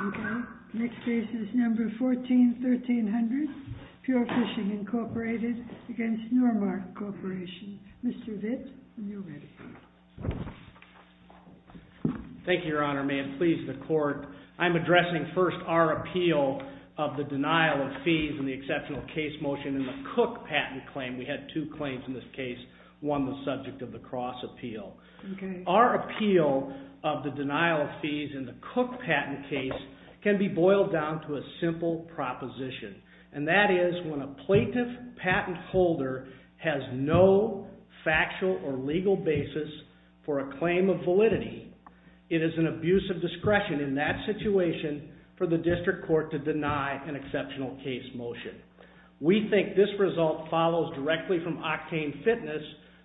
Okay, next case is number 14-1300, Pure Fishing Incorporated against Normark Corporation. Mr. Vitt, when you're ready. Thank you, Your Honor. May it please the court. I'm addressing first our appeal of the denial of fees in the exceptional case motion in the Cook patent claim. We had two claims in this case, one the subject of the Cross appeal. Our appeal of the denial of fees in the Cook patent case can be boiled down to a simple proposition, and that is when a plaintiff patent holder has no factual or legal basis for a claim of validity, it is an abuse of discretion in that situation for the district court to deny an exceptional case motion. We think this result follows directly from octane fitness,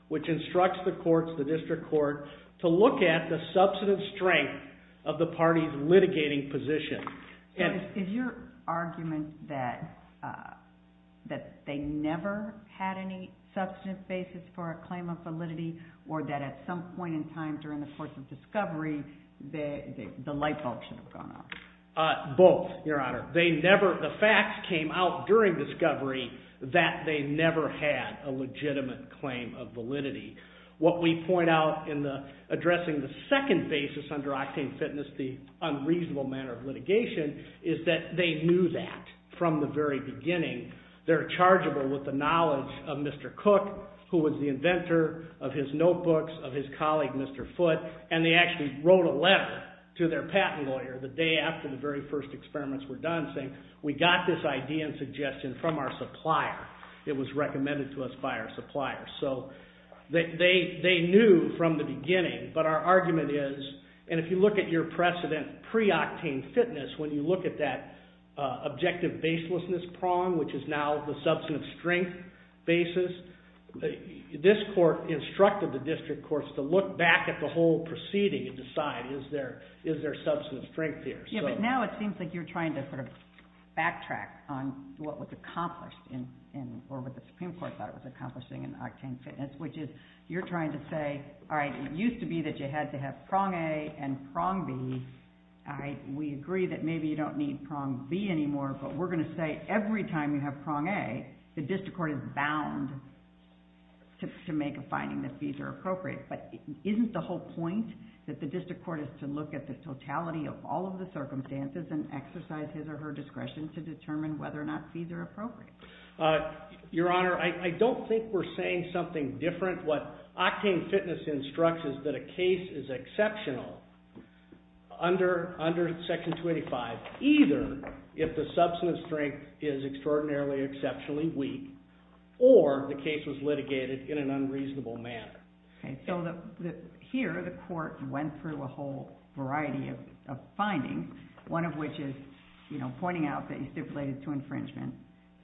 which instructs the courts, the district court, to look at the substantive strength of the party's litigating position. Is your argument that they never had any substantive basis for a claim of validity, or that at some point in time during the course of discovery, the light bulb should have gone off? Both, Your Honor. They never, the facts came out during discovery that they never had a legitimate claim of validity. What we point out in the addressing the second basis under octane fitness, the unreasonable manner of litigation, is that they knew that from the very beginning. They're chargeable with the knowledge of Mr. Cook, who was the inventor of his notebooks, of his colleague Mr. Foote, and they actually wrote a letter to their patent lawyer the day after the very first experiments were done saying, we got this idea and suggestion from our supplier. It was recommended to us by our supplier. So they knew from the beginning, but our argument is, and if you look at your precedent pre-octane fitness, when you look at that objective baselessness prong, which is now the substantive strength basis, this court instructed the district courts to look back at the whole proceeding and decide, is there substantive strength here? Yeah, but now it seems like you're trying to sort of backtrack on what was accomplished in, or what the Supreme Court thought it was accomplishing in octane fitness, which is, you're trying to say, all right, it used to be that you had to have prong A and prong B. We agree that maybe you don't need prong B anymore, but we're going to say every time you have prong A, the district court is bound to make a finding that fees are appropriate. But isn't the whole point that the district court is to look at the totality of all of the circumstances and exercise his or her discretion to determine whether or not fees are appropriate? Your Honor, I don't think we're saying something different. What octane fitness instructs is that a case is exceptional under Section 285, either if the substantive strength is extraordinarily, exceptionally weak, or the case was litigated in an unreasonable manner. Okay, so here the court went through a whole variety of findings, one of which is, you know, pointing out that you stipulated to infringement.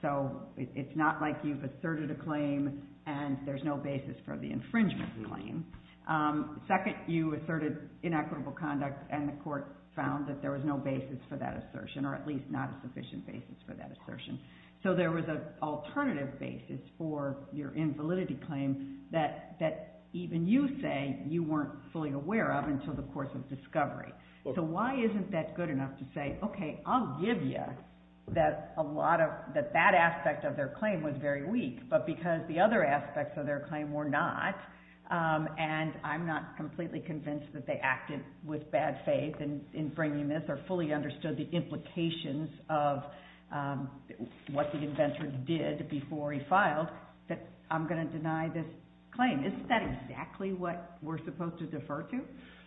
So it's not like you've given a basis for the infringement claim. Second, you asserted inequitable conduct and the court found that there was no basis for that assertion, or at least not a sufficient basis for that assertion. So there was an alternative basis for your invalidity claim that even you say you weren't fully aware of until the course of discovery. So why isn't that good enough to say, okay, I'll give you that that aspect of their claim was very weak, but because the other aspects of their claim were not, and I'm not completely convinced that they acted with bad faith in bringing this or fully understood the implications of what the inventor did before he filed, that I'm going to deny this claim. Isn't that exactly what we're supposed to defer to?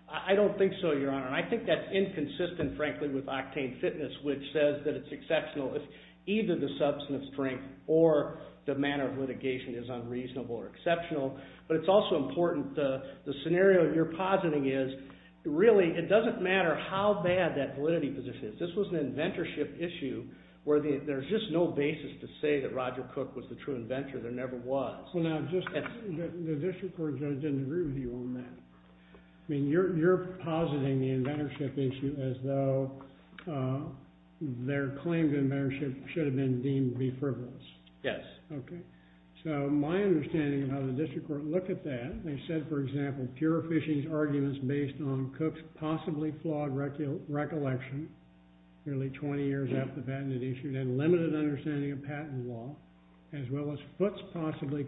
I don't think so, Your Honor. I think that's inconsistent, frankly, with octane fitness, which says that it's exceptional if either the substantive strength or the manner of litigation is unreasonable or exceptional, but it's also important the scenario you're positing is, really, it doesn't matter how bad that validity position is. This was an inventorship issue where there's just no basis to say that Roger Cook was the true inventor. There never was. Well now, the district court judge didn't agree with you on that. I mean, you're positing the inventorship issue as though their claim to inventorship should have been deemed be frivolous. Yes. Okay, so my understanding of how the district court looked at that, they said, for example, Pure Fishing's arguments based on Cook's possibly flawed recollection, nearly 20 years after the patent had issued, and limited understanding of patent law, as well as That's exactly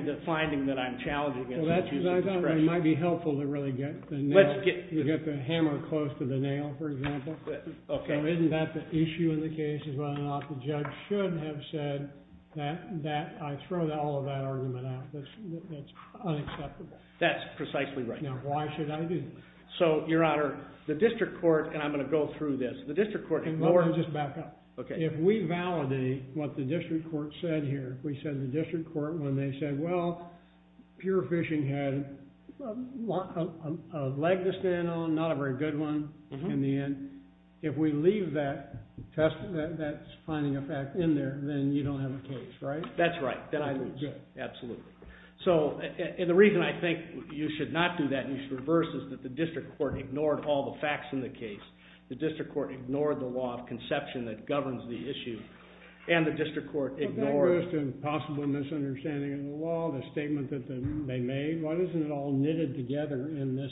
the finding that I'm challenging. Well, that's what I thought. It might be helpful to really get the hammer close to the nail, for example. Okay. So isn't that the issue in the case is whether or not the judge should have said that I throw all of that argument out. That's unacceptable. That's precisely right. Now, why should I do that? So, Your Honor, the district court, and I'm going to go through this. If we validate what the district court said here, we said the district court, when they said, well, Pure Fishing had a leg to stand on, not a very good one, in the end. If we leave that finding of fact in there, then you don't have a case, right? That's right. Then I lose. Absolutely. So, and the reason I think you should not do that and you should reverse is that the district court ignored all the facts in the case. The district court ignored the law of conception that governs the issue, and the district court ignored But that goes to a possible misunderstanding of the law, the statement that they made. Why isn't it all knitted together in this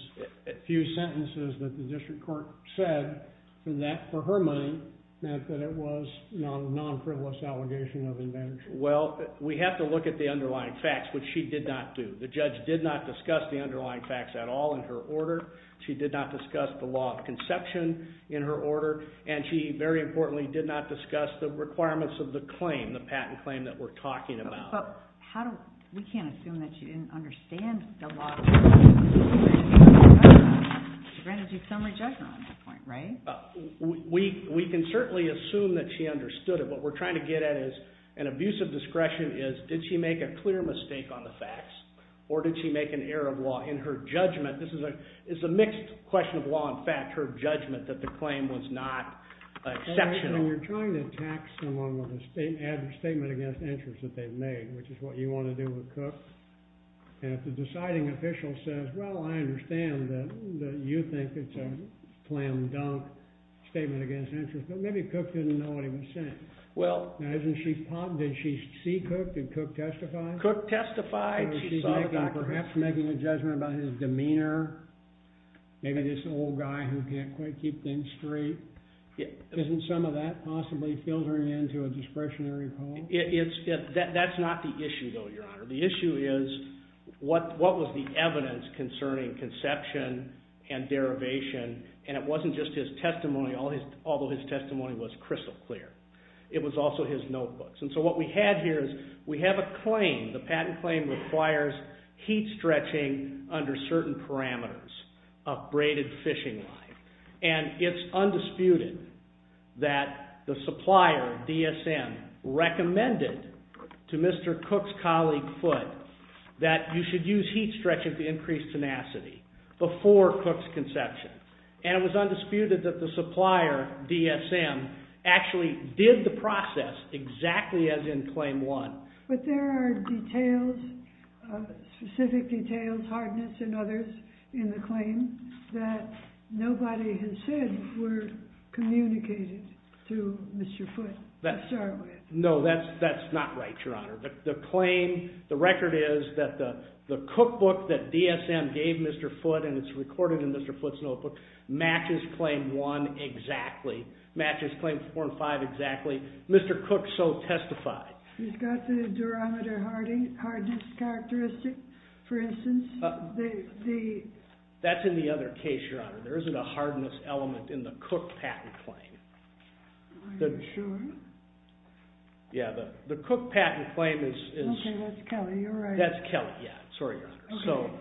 few sentences that the district court said? And that, for her mind, meant that it was a non-frivolous allegation of advantage. Well, we have to look at the underlying facts, which she did not do. The judge did not discuss the underlying facts at all in her order. She did not discuss the law of conception in her order, and she, very importantly, did not discuss the requirements of the claim, the patent claim that we're talking about. But we can't assume that she didn't understand the law of conception. She granted you some rejection on that point, right? We can certainly assume that she understood it. What we're trying to get at is an abuse of discretion is, did she make a clear mistake on the facts, or did she make an error of law in her judgment? This is a mixed question of law and fact, her judgment that the claim was not exceptional. You're trying to attack someone with a statement against interest that they've made, which is what you want to do with Cook. And if the deciding official says, well, I understand that you think it's a flam-dunk statement against interest, but maybe Cook didn't know what he was saying. Didn't she see Cook? Did Cook testify? Cook testified. Perhaps making a judgment about his demeanor, maybe this old guy who can't quite keep things straight. Isn't some of that possibly filtering into a discretionary poll? That's not the issue, though, Your Honor. The issue is, what was the evidence concerning conception and derivation? And it wasn't just his testimony, although his testimony was crystal clear. It was also his notebooks. And so what we have here is we have a claim, the patent claim requires heat stretching under certain parameters of braided fishing line. And it's undisputed that the supplier, DSM, recommended to Mr. Cook's colleague, Foote, that you should use heat stretching to increase tenacity before Cook's conception. And it was undisputed that the supplier, DSM, actually did the process exactly as in Claim 1. But there are details, specific details, hardness and others, in the claim that nobody has said were communicated to Mr. Foote to start with. No, that's not right, Your Honor. The claim, the record is that the cookbook that DSM gave Mr. Foote, and it's recorded in Mr. Foote's notebook, matches Claim 1 exactly, matches Claim 4 and 5 exactly. Mr. Cook so testified. He's got the durometer hardness characteristic, for instance. That's in the other case, Your Honor. There isn't a hardness element in the Cook patent claim. Are you sure? Yeah, the Cook patent claim is... Okay, that's Kelly, you're right. That's Kelly, yeah. Sorry, Your Honor.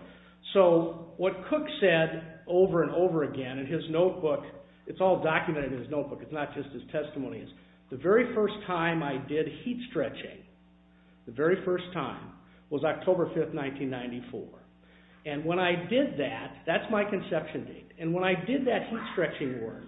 So, what Cook said over and over again in his notebook, it's all documented in his notebook, it's not just his testimonies, the very first time I did heat stretching, the very first time, was October 5th, 1994. And when I did that, that's my conception date. And when I did that heat stretching work,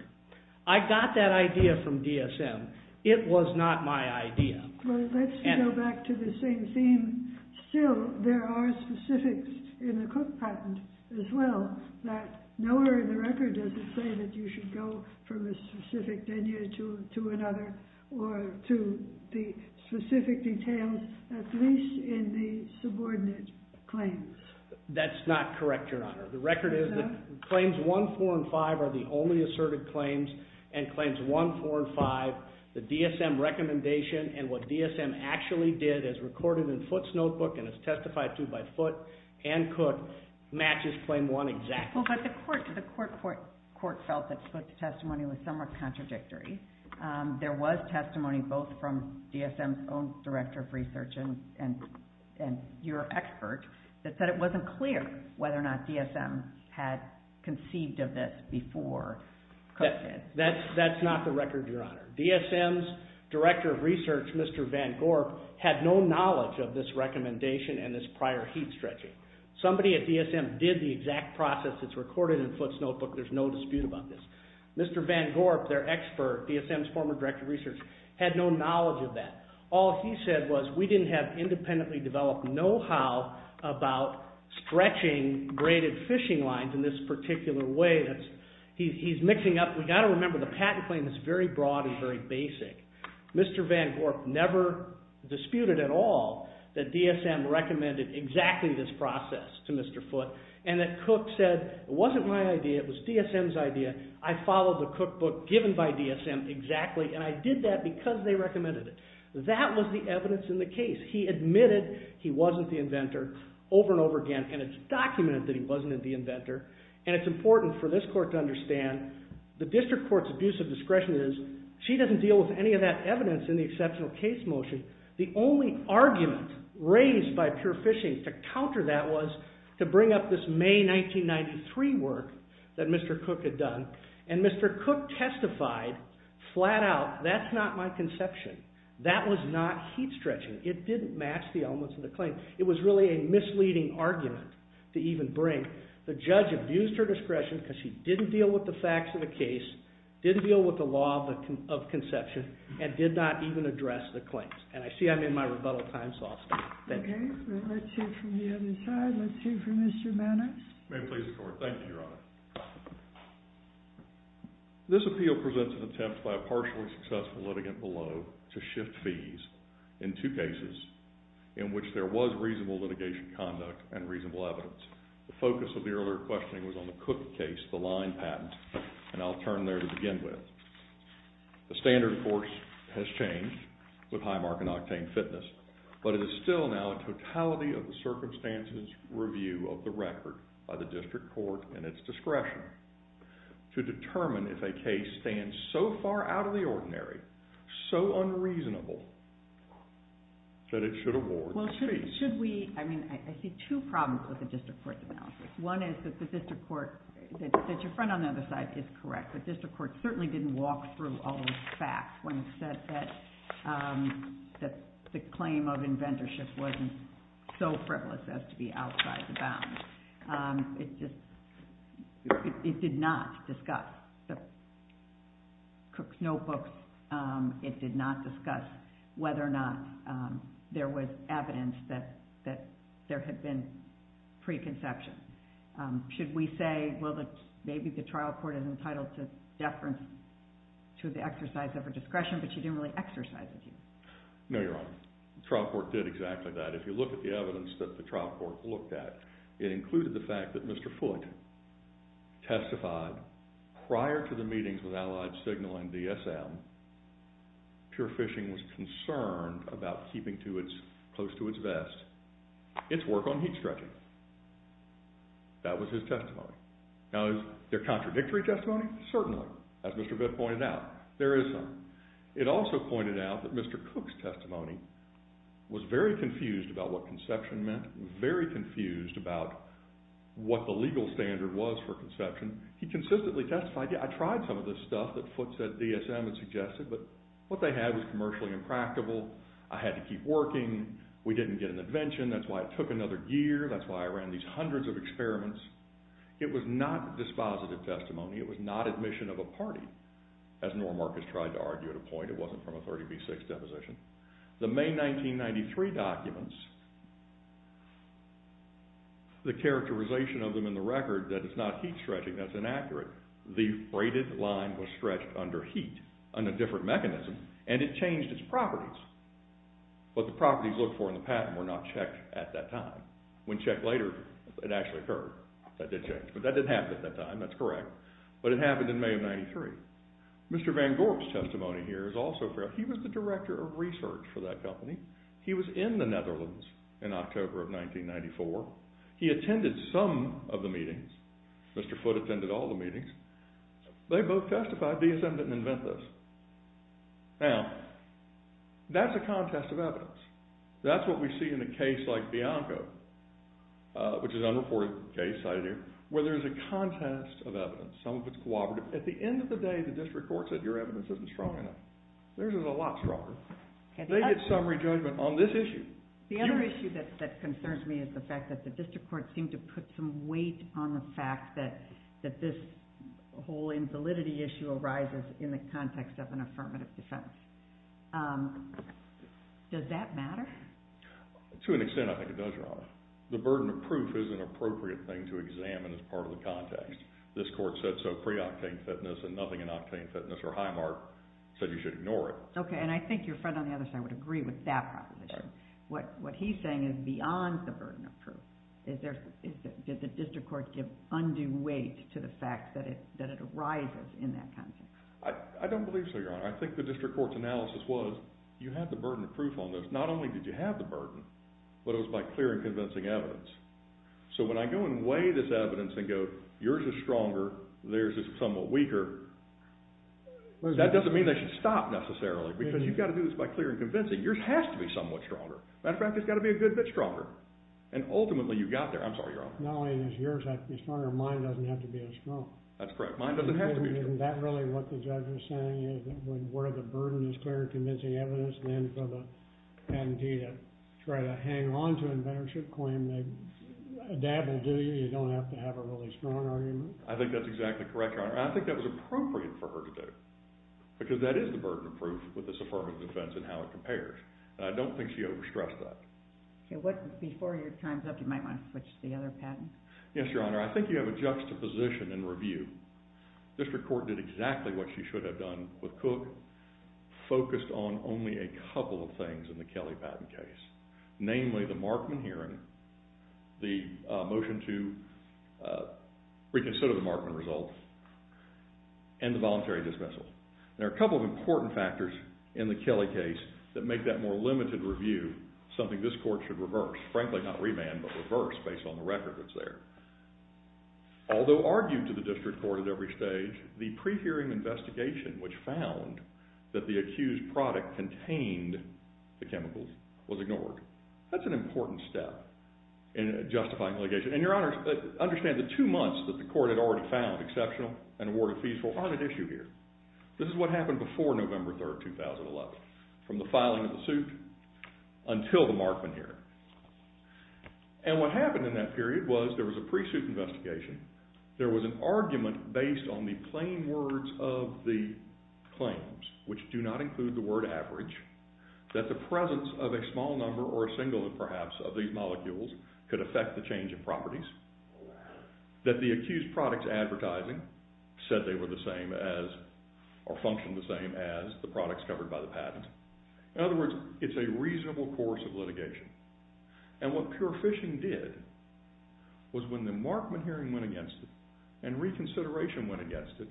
I got that idea from DSM. It was not my idea. Well, let's go back to the same theme. Still, there are specifics in the Cook patent as well, that nowhere in the record does it say that you should go from a specific venue to another, or to the specific details, at least in the subordinate claims. That's not correct, Your Honor. The record is that Claims 1, 4, and 5 are the only asserted claims, and Claims 1, 4, and 5, the DSM recommendation, and what DSM actually did, as recorded in Foote's notebook, and as testified to by Foote and Cook, matches Claims 1 exactly. Well, but the court felt that Foote's testimony was somewhat contradictory. There was testimony both from DSM's own Director of Research and your expert, that said it wasn't clear whether or not DSM had conceived of this before Cook did. That's not the record, Your Honor. DSM's Director of Research, Mr. Van Gorp, had no knowledge of this recommendation and this prior heat stretching. Somebody at DSM did the exact process that's recorded in Foote's notebook. There's no dispute about this. Mr. Van Gorp, their expert, DSM's former Director of Research, had no knowledge of that. All he said was, we didn't have independently developed know-how about stretching graded fishing lines in this particular way. We've got to remember the patent claim is very broad and very basic. Mr. Van Gorp never disputed at all that DSM recommended exactly this process to Mr. Foote, and that Cook said, it wasn't my idea, it was DSM's idea. I followed the cookbook given by DSM exactly, and I did that because they recommended it. That was the evidence in the case. He admitted he wasn't the inventor over and over again, and it's documented that he wasn't the inventor. It's important for this court to understand the district court's abuse of discretion is, she doesn't deal with any of that evidence in the exceptional case motion. The only argument raised by Pure Fishing to counter that was to bring up this May 1993 work that Mr. Cook had done. Mr. Cook testified flat out, that's not my conception. That was not heat stretching. It didn't match the elements of the claim. It was really a misleading argument to even bring. The judge abused her discretion because she didn't deal with the facts of the case, didn't deal with the law of conception, and did not even address the claims. And I see I'm in my rebuttal time, so I'll stop. Thank you. Let's hear from the other side. Let's hear from Mr. Mannix. May it please the court. Thank you, Your Honor. This appeal presents an attempt by a partially successful litigant below to shift fees in two cases in which there was reasonable litigation conduct and reasonable evidence. The focus of the earlier questioning was on the Cook case, the line patent, and I'll turn there to begin with. The standard, of course, has changed with Highmark and Octane Fitness, but it is still now a totality of the circumstances review of the record by the district court and its discretion to determine if a case stands so far out of the ordinary, so unreasonable, that it should award the fees. Should we, I mean, I see two problems with the district court's analysis. One is that the district court, that your friend on the other side is correct, the district court certainly didn't walk through all those facts when it said that the claim of inventorship wasn't so frivolous as to be outside the bounds. It did not discuss the Cook's notebooks. It did not discuss whether or not there was evidence that there had been preconception. Should we say, well, maybe the trial court is entitled to deference to the exercise of her discretion, but she didn't really exercise it. No, Your Honor. The trial court did exactly that. If you look at the evidence that the trial court looked at, it included the fact that Mr. Foote testified prior to the meetings with Allied Signal and DSM, Pure Fishing was concerned about keeping close to its vest its work on heat stretching. That was his testimony. Now, is there contradictory testimony? Certainly. As Mr. Foote pointed out, there is some. It also pointed out that Mr. Cook's testimony was very confused about what conception meant, very confused about what the legal standard was for conception. He consistently testified, yeah, I tried some of this stuff that Foote said DSM had suggested, but what they had was commercially impractical. I had to keep working. We didn't get an invention. That's why it took another year. That's why I ran these hundreds of experiments. It was not dispositive testimony. It was not admission of a party, as Norm Marcus tried to argue at a point. It wasn't from a 30 v. 6 deposition. The May 1993 documents, the characterization of them in the record that it's not heat stretching, that's inaccurate. The braided line was stretched under heat on a different mechanism, and it changed its properties. But the properties looked for in the patent were not checked at that time. When checked later, it actually occurred. That did change. But that didn't happen at that time. That's correct. But it happened in May of 1993. Mr. Van Gorp's testimony here is also fair. He was the director of research for that company. He was in the Netherlands in October of 1994. He attended some of the meetings. Mr. Foote attended all the meetings. They both testified. DSM didn't invent this. Now, that's a contest of evidence. That's what we see in a case like Bianco, which is an unreported case, I hear, where there's a contest of evidence. Some of it's cooperative. At the end of the day, the district court said your evidence isn't strong enough. Theirs is a lot stronger. They get summary judgment on this issue. The other issue that concerns me is the fact that the district court seemed to put some weight on the fact that this whole invalidity issue arises in the context of an affirmative defense. Does that matter? To an extent, I think it does, Your Honor. The burden of proof is an appropriate thing to examine as part of the context. This court said so pre-octane fitness and nothing in octane fitness, or high mark, said you should ignore it. Okay, and I think your friend on the other side would agree with that proposition. What he's saying is beyond the burden of proof. Did the district court give undue weight to the fact that it arises in that context? I don't believe so, Your Honor. I think the district court's analysis was you have the burden of proof on this. Not only did you have the burden, but it was by clear and convincing evidence. So when I go and weigh this evidence and go yours is stronger, theirs is somewhat weaker, that doesn't mean they should stop necessarily because you've got to do this by clear and convincing. Yours has to be somewhat stronger. As a matter of fact, it's got to be a good bit stronger. And ultimately you got there. I'm sorry, Your Honor. Not only is yours stronger, mine doesn't have to be as strong. That's correct. Mine doesn't have to be as strong. Isn't that really what the judge was saying? Where the burden is clear and convincing evidence, then for the patentee to try to hang on to an inventorship claim, a dab will do you. You don't have to have a really strong argument. I think that's exactly correct, Your Honor. And I think that was appropriate for her to do because that is the burden of proof with this affirmative defense and how it compares. And I don't think she overstressed that. Before your time's up, you might want to switch to the other patent. Yes, Your Honor. I think you have a juxtaposition in review. District court did exactly what she should have done with Cook, focused on only a couple of things in the Kelly patent case, namely the Markman hearing, the motion to reconsider the Markman result, and the voluntary dismissal. There are a couple of important factors in the Kelly case that make that more limited review something this court should reverse. Frankly, not remand, but reverse based on the record that's there. Although argued to the district court at every stage, the pre-hearing investigation, which found that the accused product contained the chemicals, was ignored. That's an important step in justifying litigation. And, Your Honor, understand that two months that the court had already found exceptional and awarded feasible aren't at issue here. This is what happened before November 3, 2011, from the filing of the suit until the Markman hearing. And what happened in that period was there was a pre-suit investigation. There was an argument based on the plain words of the claims, which do not include the word average, that the presence of a small number or a single, perhaps, of these molecules could affect the change in properties, that the accused product's advertising said they were the same as, or functioned the same as, the products covered by the patent. In other words, it's a reasonable course of litigation. And what pure phishing did was when the Markman hearing went against it and reconsideration went against it,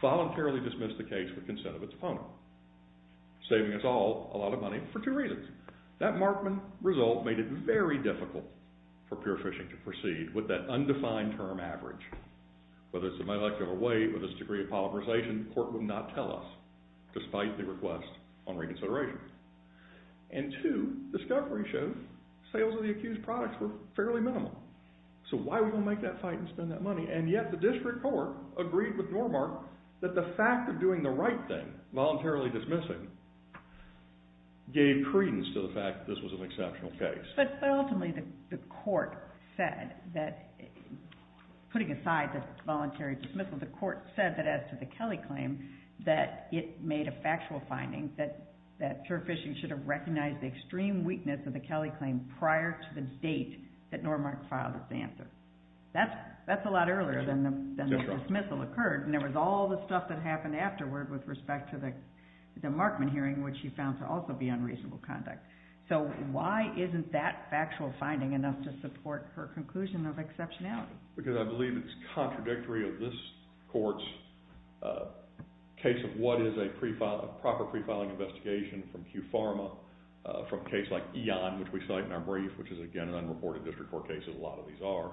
voluntarily dismissed the case with consent of its opponent, saving us all a lot of money for two reasons. That Markman result made it very difficult for pure phishing to proceed with that undefined term average. Whether it's the molecular weight, whether it's the degree of polymerization, the court would not tell us, despite the request on reconsideration. And two, discovery shows sales of the accused products were fairly minimal. So why would we want to make that fight and spend that money? And yet the district court agreed with Normark that the fact of doing the right thing, voluntarily dismissing, gave credence to the fact that this was an exceptional case. But ultimately the court said that, putting aside the voluntary dismissal, the court said that as to the Kelly claim, that it made a factual finding that pure phishing should have recognized the extreme weakness of the Kelly claim prior to the date that Normark filed its answer. That's a lot earlier than the dismissal occurred, and there was all the stuff that happened afterward with respect to the Markman hearing, which she found to also be unreasonable conduct. So why isn't that factual finding enough to support her conclusion of exceptionality? Because I believe it's contradictory of this court's case of what is a proper pre-filing investigation from QPharma, from a case like Eon, which we cite in our brief, which is again an unreported district court case, as a lot of these are.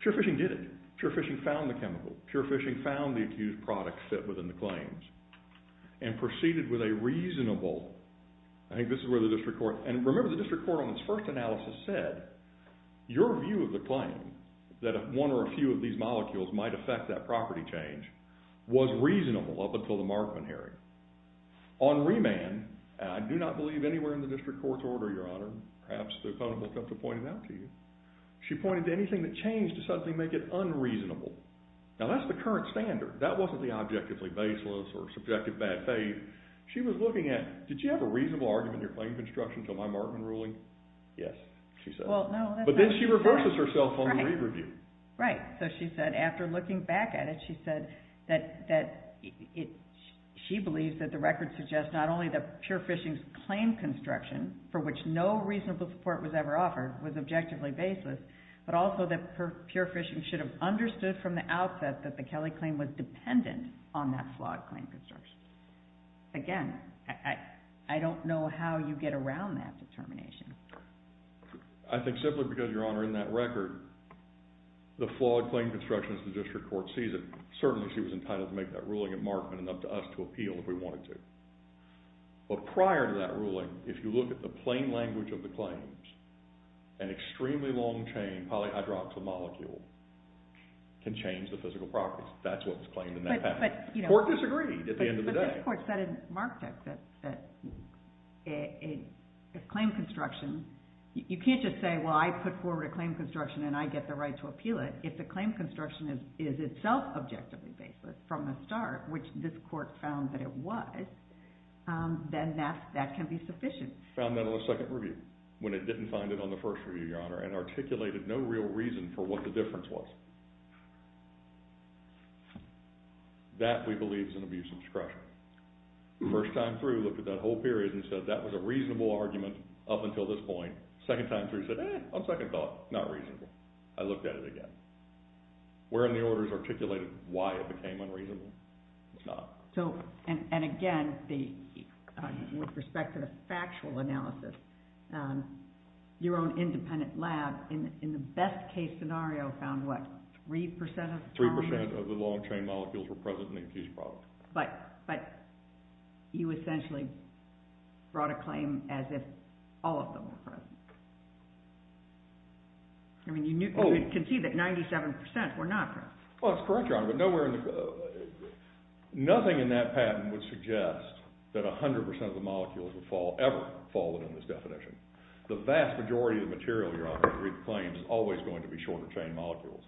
Pure phishing did it. Pure phishing found the chemical. Pure phishing found the accused product fit within the claims and proceeded with a reasonable, I think this is where the district court, and remember the district court on its first analysis said, your view of the claim, that one or a few of these molecules might affect that property change, was reasonable up until the Markman hearing. On remand, and I do not believe anywhere in the district court's order, Your Honor, perhaps the opponent will come to point it out to you, she pointed to anything that changed to suddenly make it unreasonable. Now that's the current standard. That wasn't the objectively baseless or subjective bad faith. She was looking at, did you have a reasonable argument in your claim construction until my Markman ruling? Yes, she said. But then she reverses herself on the re-review. Right, so she said after looking back at it, she said that she believes that the record suggests not only that pure phishing's claim construction, for which no reasonable support was ever offered, was objectively baseless, but also that pure phishing should have understood from the outset that the Kelley claim was dependent on that flawed claim construction. Again, I don't know how you get around that determination. I think simply because, Your Honor, in that record, the flawed claim construction as the district court sees it, certainly she was entitled to make that ruling at Markman and up to us to appeal if we wanted to. But prior to that ruling, if you look at the plain language of the claims, an extremely long-chain polyhydroxyl molecule can change the physical properties. That's what was claimed in that patent. The court disagreed at the end of the day. But this court said in Markdex that if claim construction, you can't just say, well, I put forward a claim construction and I get the right to appeal it. If the claim construction is itself objectively baseless from the start, which this court found that it was, then that can be sufficient. The court found that on a second review when it didn't find it on the first review, Your Honor, and articulated no real reason for what the difference was. That, we believe, is an abuse of discretion. First time through, looked at that whole period and said, that was a reasonable argument up until this point. Second time through said, eh, on second thought, not reasonable. I looked at it again. Where in the orders articulated why it became unreasonable, it's not. Again, with respect to the factual analysis, your own independent lab, in the best case scenario, found what? 3% of the long chain molecules were present in the infused product. But you essentially brought a claim as if all of them were present. You can see that 97% were not present. Well, that's correct, Your Honor, but nowhere in the... Nothing in that patent would suggest that 100% of the molecules would ever fall within this definition. The vast majority of the material, Your Honor, claims is always going to be shorter chain molecules.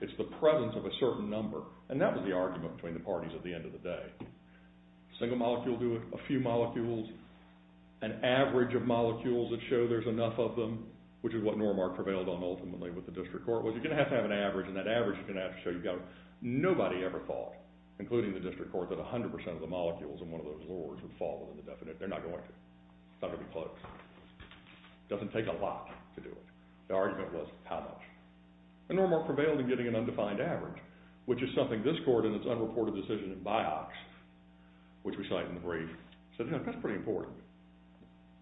It's the presence of a certain number, and that was the argument between the parties at the end of the day. A single molecule will do a few molecules. An average of molecules that show there's enough of them, which is what Normark prevailed on ultimately with the district court, was you're going to have to have an average, and that average is going to have to show nobody ever thought, including the district court, that 100% of the molecules in one of those lures would fall within the definition. They're not going to. It's not going to be close. It doesn't take a lot to do it. The argument was, how much? Normark prevailed in getting an undefined average, which is something this court, in its unreported decision in BIOCS, which we cite in the brief, said, that's pretty important.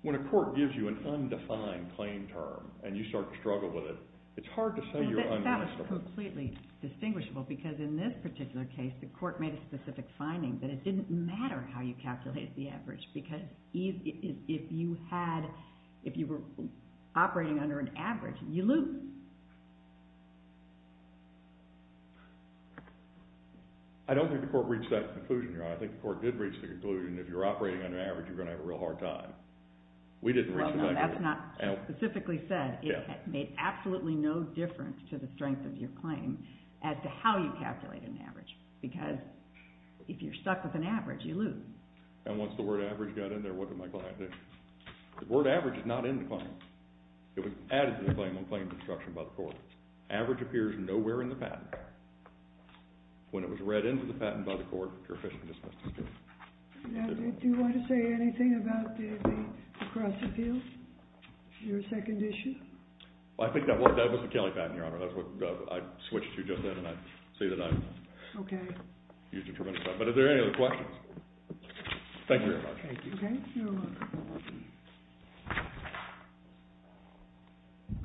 When a court gives you an undefined claim term and you start to struggle with it, it's hard to say you're undefined. That was completely distinguishable, because in this particular case, the court made a specific finding that it didn't matter how you calculated the average, because if you were operating under an average, you lose. I don't think the court reached that conclusion, Your Honor. I think the court did reach the conclusion if you're operating under an average, you're going to have a real hard time. We didn't reach that conclusion. But that's not specifically said. It made absolutely no difference to the strength of your claim as to how you calculated an average, because if you're stuck with an average, you lose. And once the word average got in there, what did my client do? The word average is not in the claim. It was added to the claim on claims of obstruction by the court. Average appears nowhere in the patent. When it was read into the patent by the court, you're officially dismissed as guilty. Do you want to say anything about the across the field? Your second issue? Well, I think that was the Kelly patent, Your Honor. That's what I switched to just then, and I'd say that I used a tremendous amount. But are there any other questions? Thank you very much. Okay, you're welcome.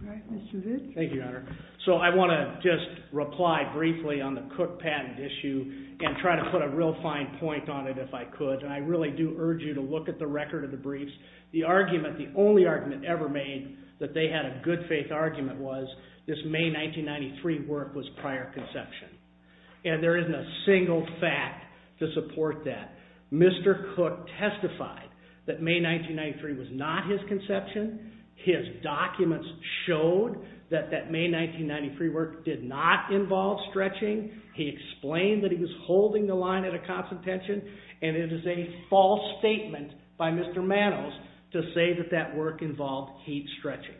All right, Mr. Vitt. Thank you, Your Honor. So I want to just reply briefly on the Cook patent issue and try to put a real fine point on it if I could, and I really do urge you to look at the record of the briefs. The argument, the only argument ever made that they had a good faith argument was this May 1993 work was prior conception, and there isn't a single fact to support that. Mr. Cook testified that May 1993 was not his conception. His documents showed that that May 1993 work did not involve stretching. He explained that he was holding the line at a consultation, and it is a false statement by Mr. Manos to say that that work involved heat stretching.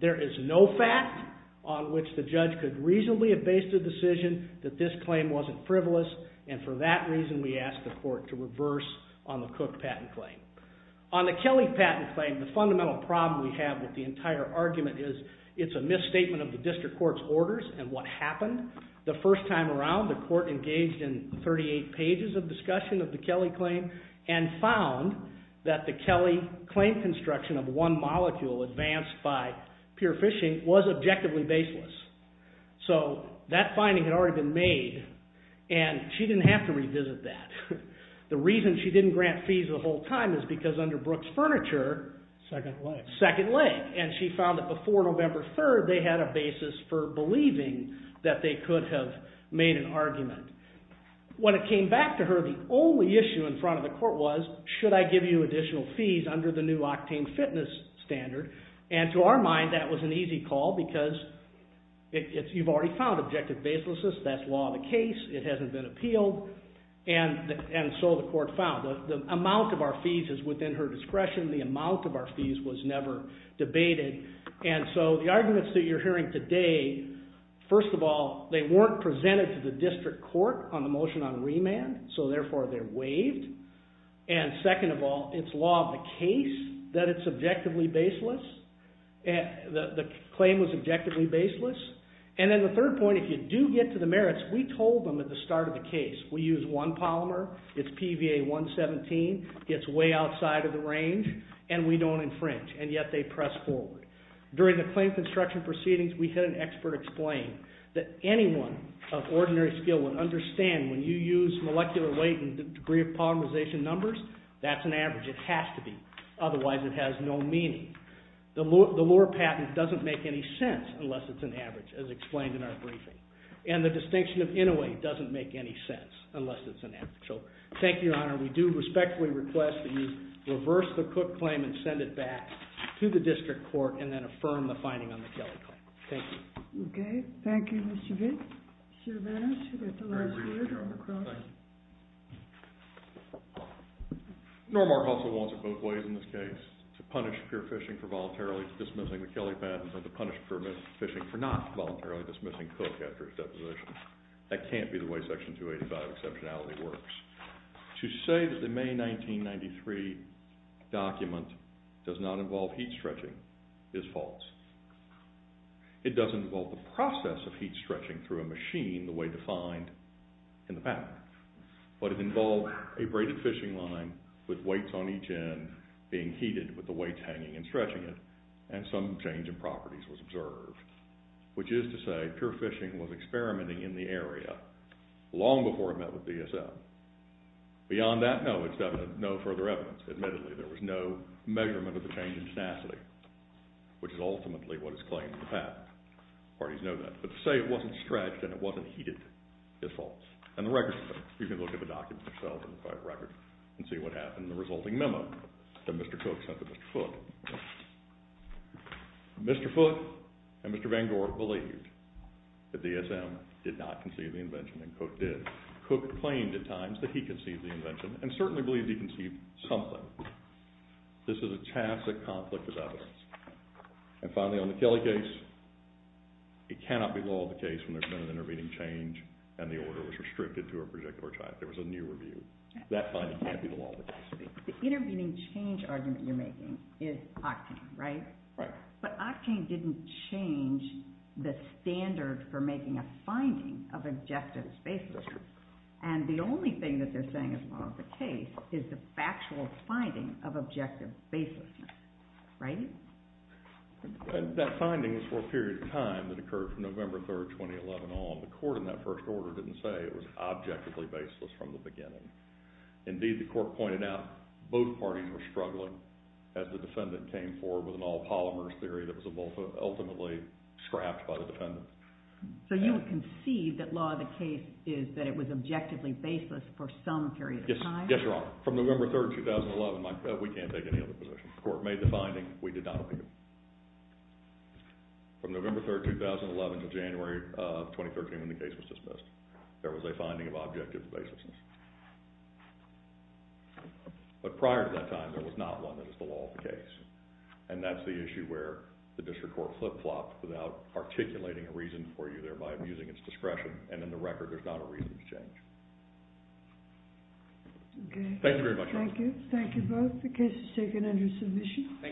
There is no fact on which the judge could reasonably have based a decision that this claim wasn't frivolous, and for that reason we ask the court to reverse on the Cook patent claim. On the Kelly patent claim, the fundamental problem we have with the entire argument is it's a misstatement of the district court's orders and what happened the first time around the court engaged in 38 pages of discussion of the Kelly claim and found that the Kelly claim construction of one molecule advanced by pure fishing was objectively baseless. So that finding had already been made, and she didn't have to revisit that. The reason she didn't grant fees the whole time is because under Brooks Furniture... Second leg. Second leg, and she found that before November 3rd they had a basis for believing that they could have made an argument. When it came back to her, the only issue in front of the court was, should I give you additional fees under the new octane fitness standard, and to our mind that was an easy call because you've already found objective baselessness, that's law of the case, it hasn't been appealed, and so the court found. The amount of our fees is within her discretion. The amount of our fees was never debated, and so the arguments that you're hearing today, first of all, they weren't presented to the district court on the motion on remand, so therefore they're waived, and second of all, it's law of the case that it's objectively baseless, the claim was objectively baseless, and then the third point, if you do get to the merits, we told them at the start of the case, we use one polymer, it's PVA 117, it's way outside of the range, and we don't infringe, and yet they press forward. During the claim construction proceedings, we had an expert explain that anyone of ordinary skill would understand when you use molecular weight and degree of polymerization numbers, that's an average, it has to be, otherwise it has no meaning. The lower patent doesn't make any sense unless it's an average, as explained in our briefing, and the distinction of innovate doesn't make any sense unless it's an average. So, thank you, Your Honor. We do respectfully request that you reverse the Cook claim and send it back to the district court, and then affirm the finding on the Kelly claim. Thank you. Okay, thank you, Mr. Vick. Mr. Vanos, you get the last word on the cross. Thank you. Normark also wants it both ways in this case, to punish pure fishing for voluntarily dismissing the Kelly patent, and to punish pure fishing for not voluntarily dismissing Cook after his deposition. That can't be the way Section 285 exceptionality works. To say that the May 1993 document does not involve heat stretching is false. It does involve the process of heat stretching through a machine, the way defined in the patent. But it involved a braided fishing line with weights on each end, being heated with the weights hanging and stretching it, and some change in properties was observed. Which is to say, pure fishing was experimenting in the area long before it met with DSM. Beyond that, no, it's no further evidence. Admittedly, there was no measurement of the change in tenacity, which is ultimately what is claimed in the patent. Parties know that. But to say it wasn't stretched and it wasn't heated is false. And the record says it. You can look at the document yourself and see what happened in the resulting memo that Mr. Cook sent to Mr. Foote. Mr. Foote and Mr. Van Gork believed that DSM did not conceive the invention, and Cook did. Cook claimed at times that he conceived the invention and certainly believed he conceived something. This is a tacit conflict of evidence. And finally, on the Kelly case, it cannot be the law of the case when there's been an intervening change and the order was restricted to a particular child. There was a new review. That finding can't be the law of the case. The intervening change argument you're making is Octane, right? But Octane didn't change the standard for making a finding of objective baselessness. And the only thing that they're saying is law of the case is the factual finding of objective baselessness, right? That finding was for a period of time that occurred from November 3, 2011 on. The court in that first order didn't say it was objectively baseless from the beginning. Indeed, the court pointed out both parties were struggling as the defendant came forward with an all-polymers theory that was ultimately scrapped by the defendant. So you would conceive that law of the case is that it was objectively baseless for some period of time? Yes, Your Honor. From November 3, 2011, we can't take any other position. The court made the finding. We did not appeal. From November 3, 2011 to January of 2013, when the case was dismissed, there was a finding of objective baselessness. But prior to that time, there was not one that was the law of the case. And that's the issue where the district court flip-flopped without articulating a reason for you, thereby abusing its discretion. And in the record, there's not a reason to change. Okay. Thank you very much, Your Honor. Thank you. Thank you both. The case is taken under submission.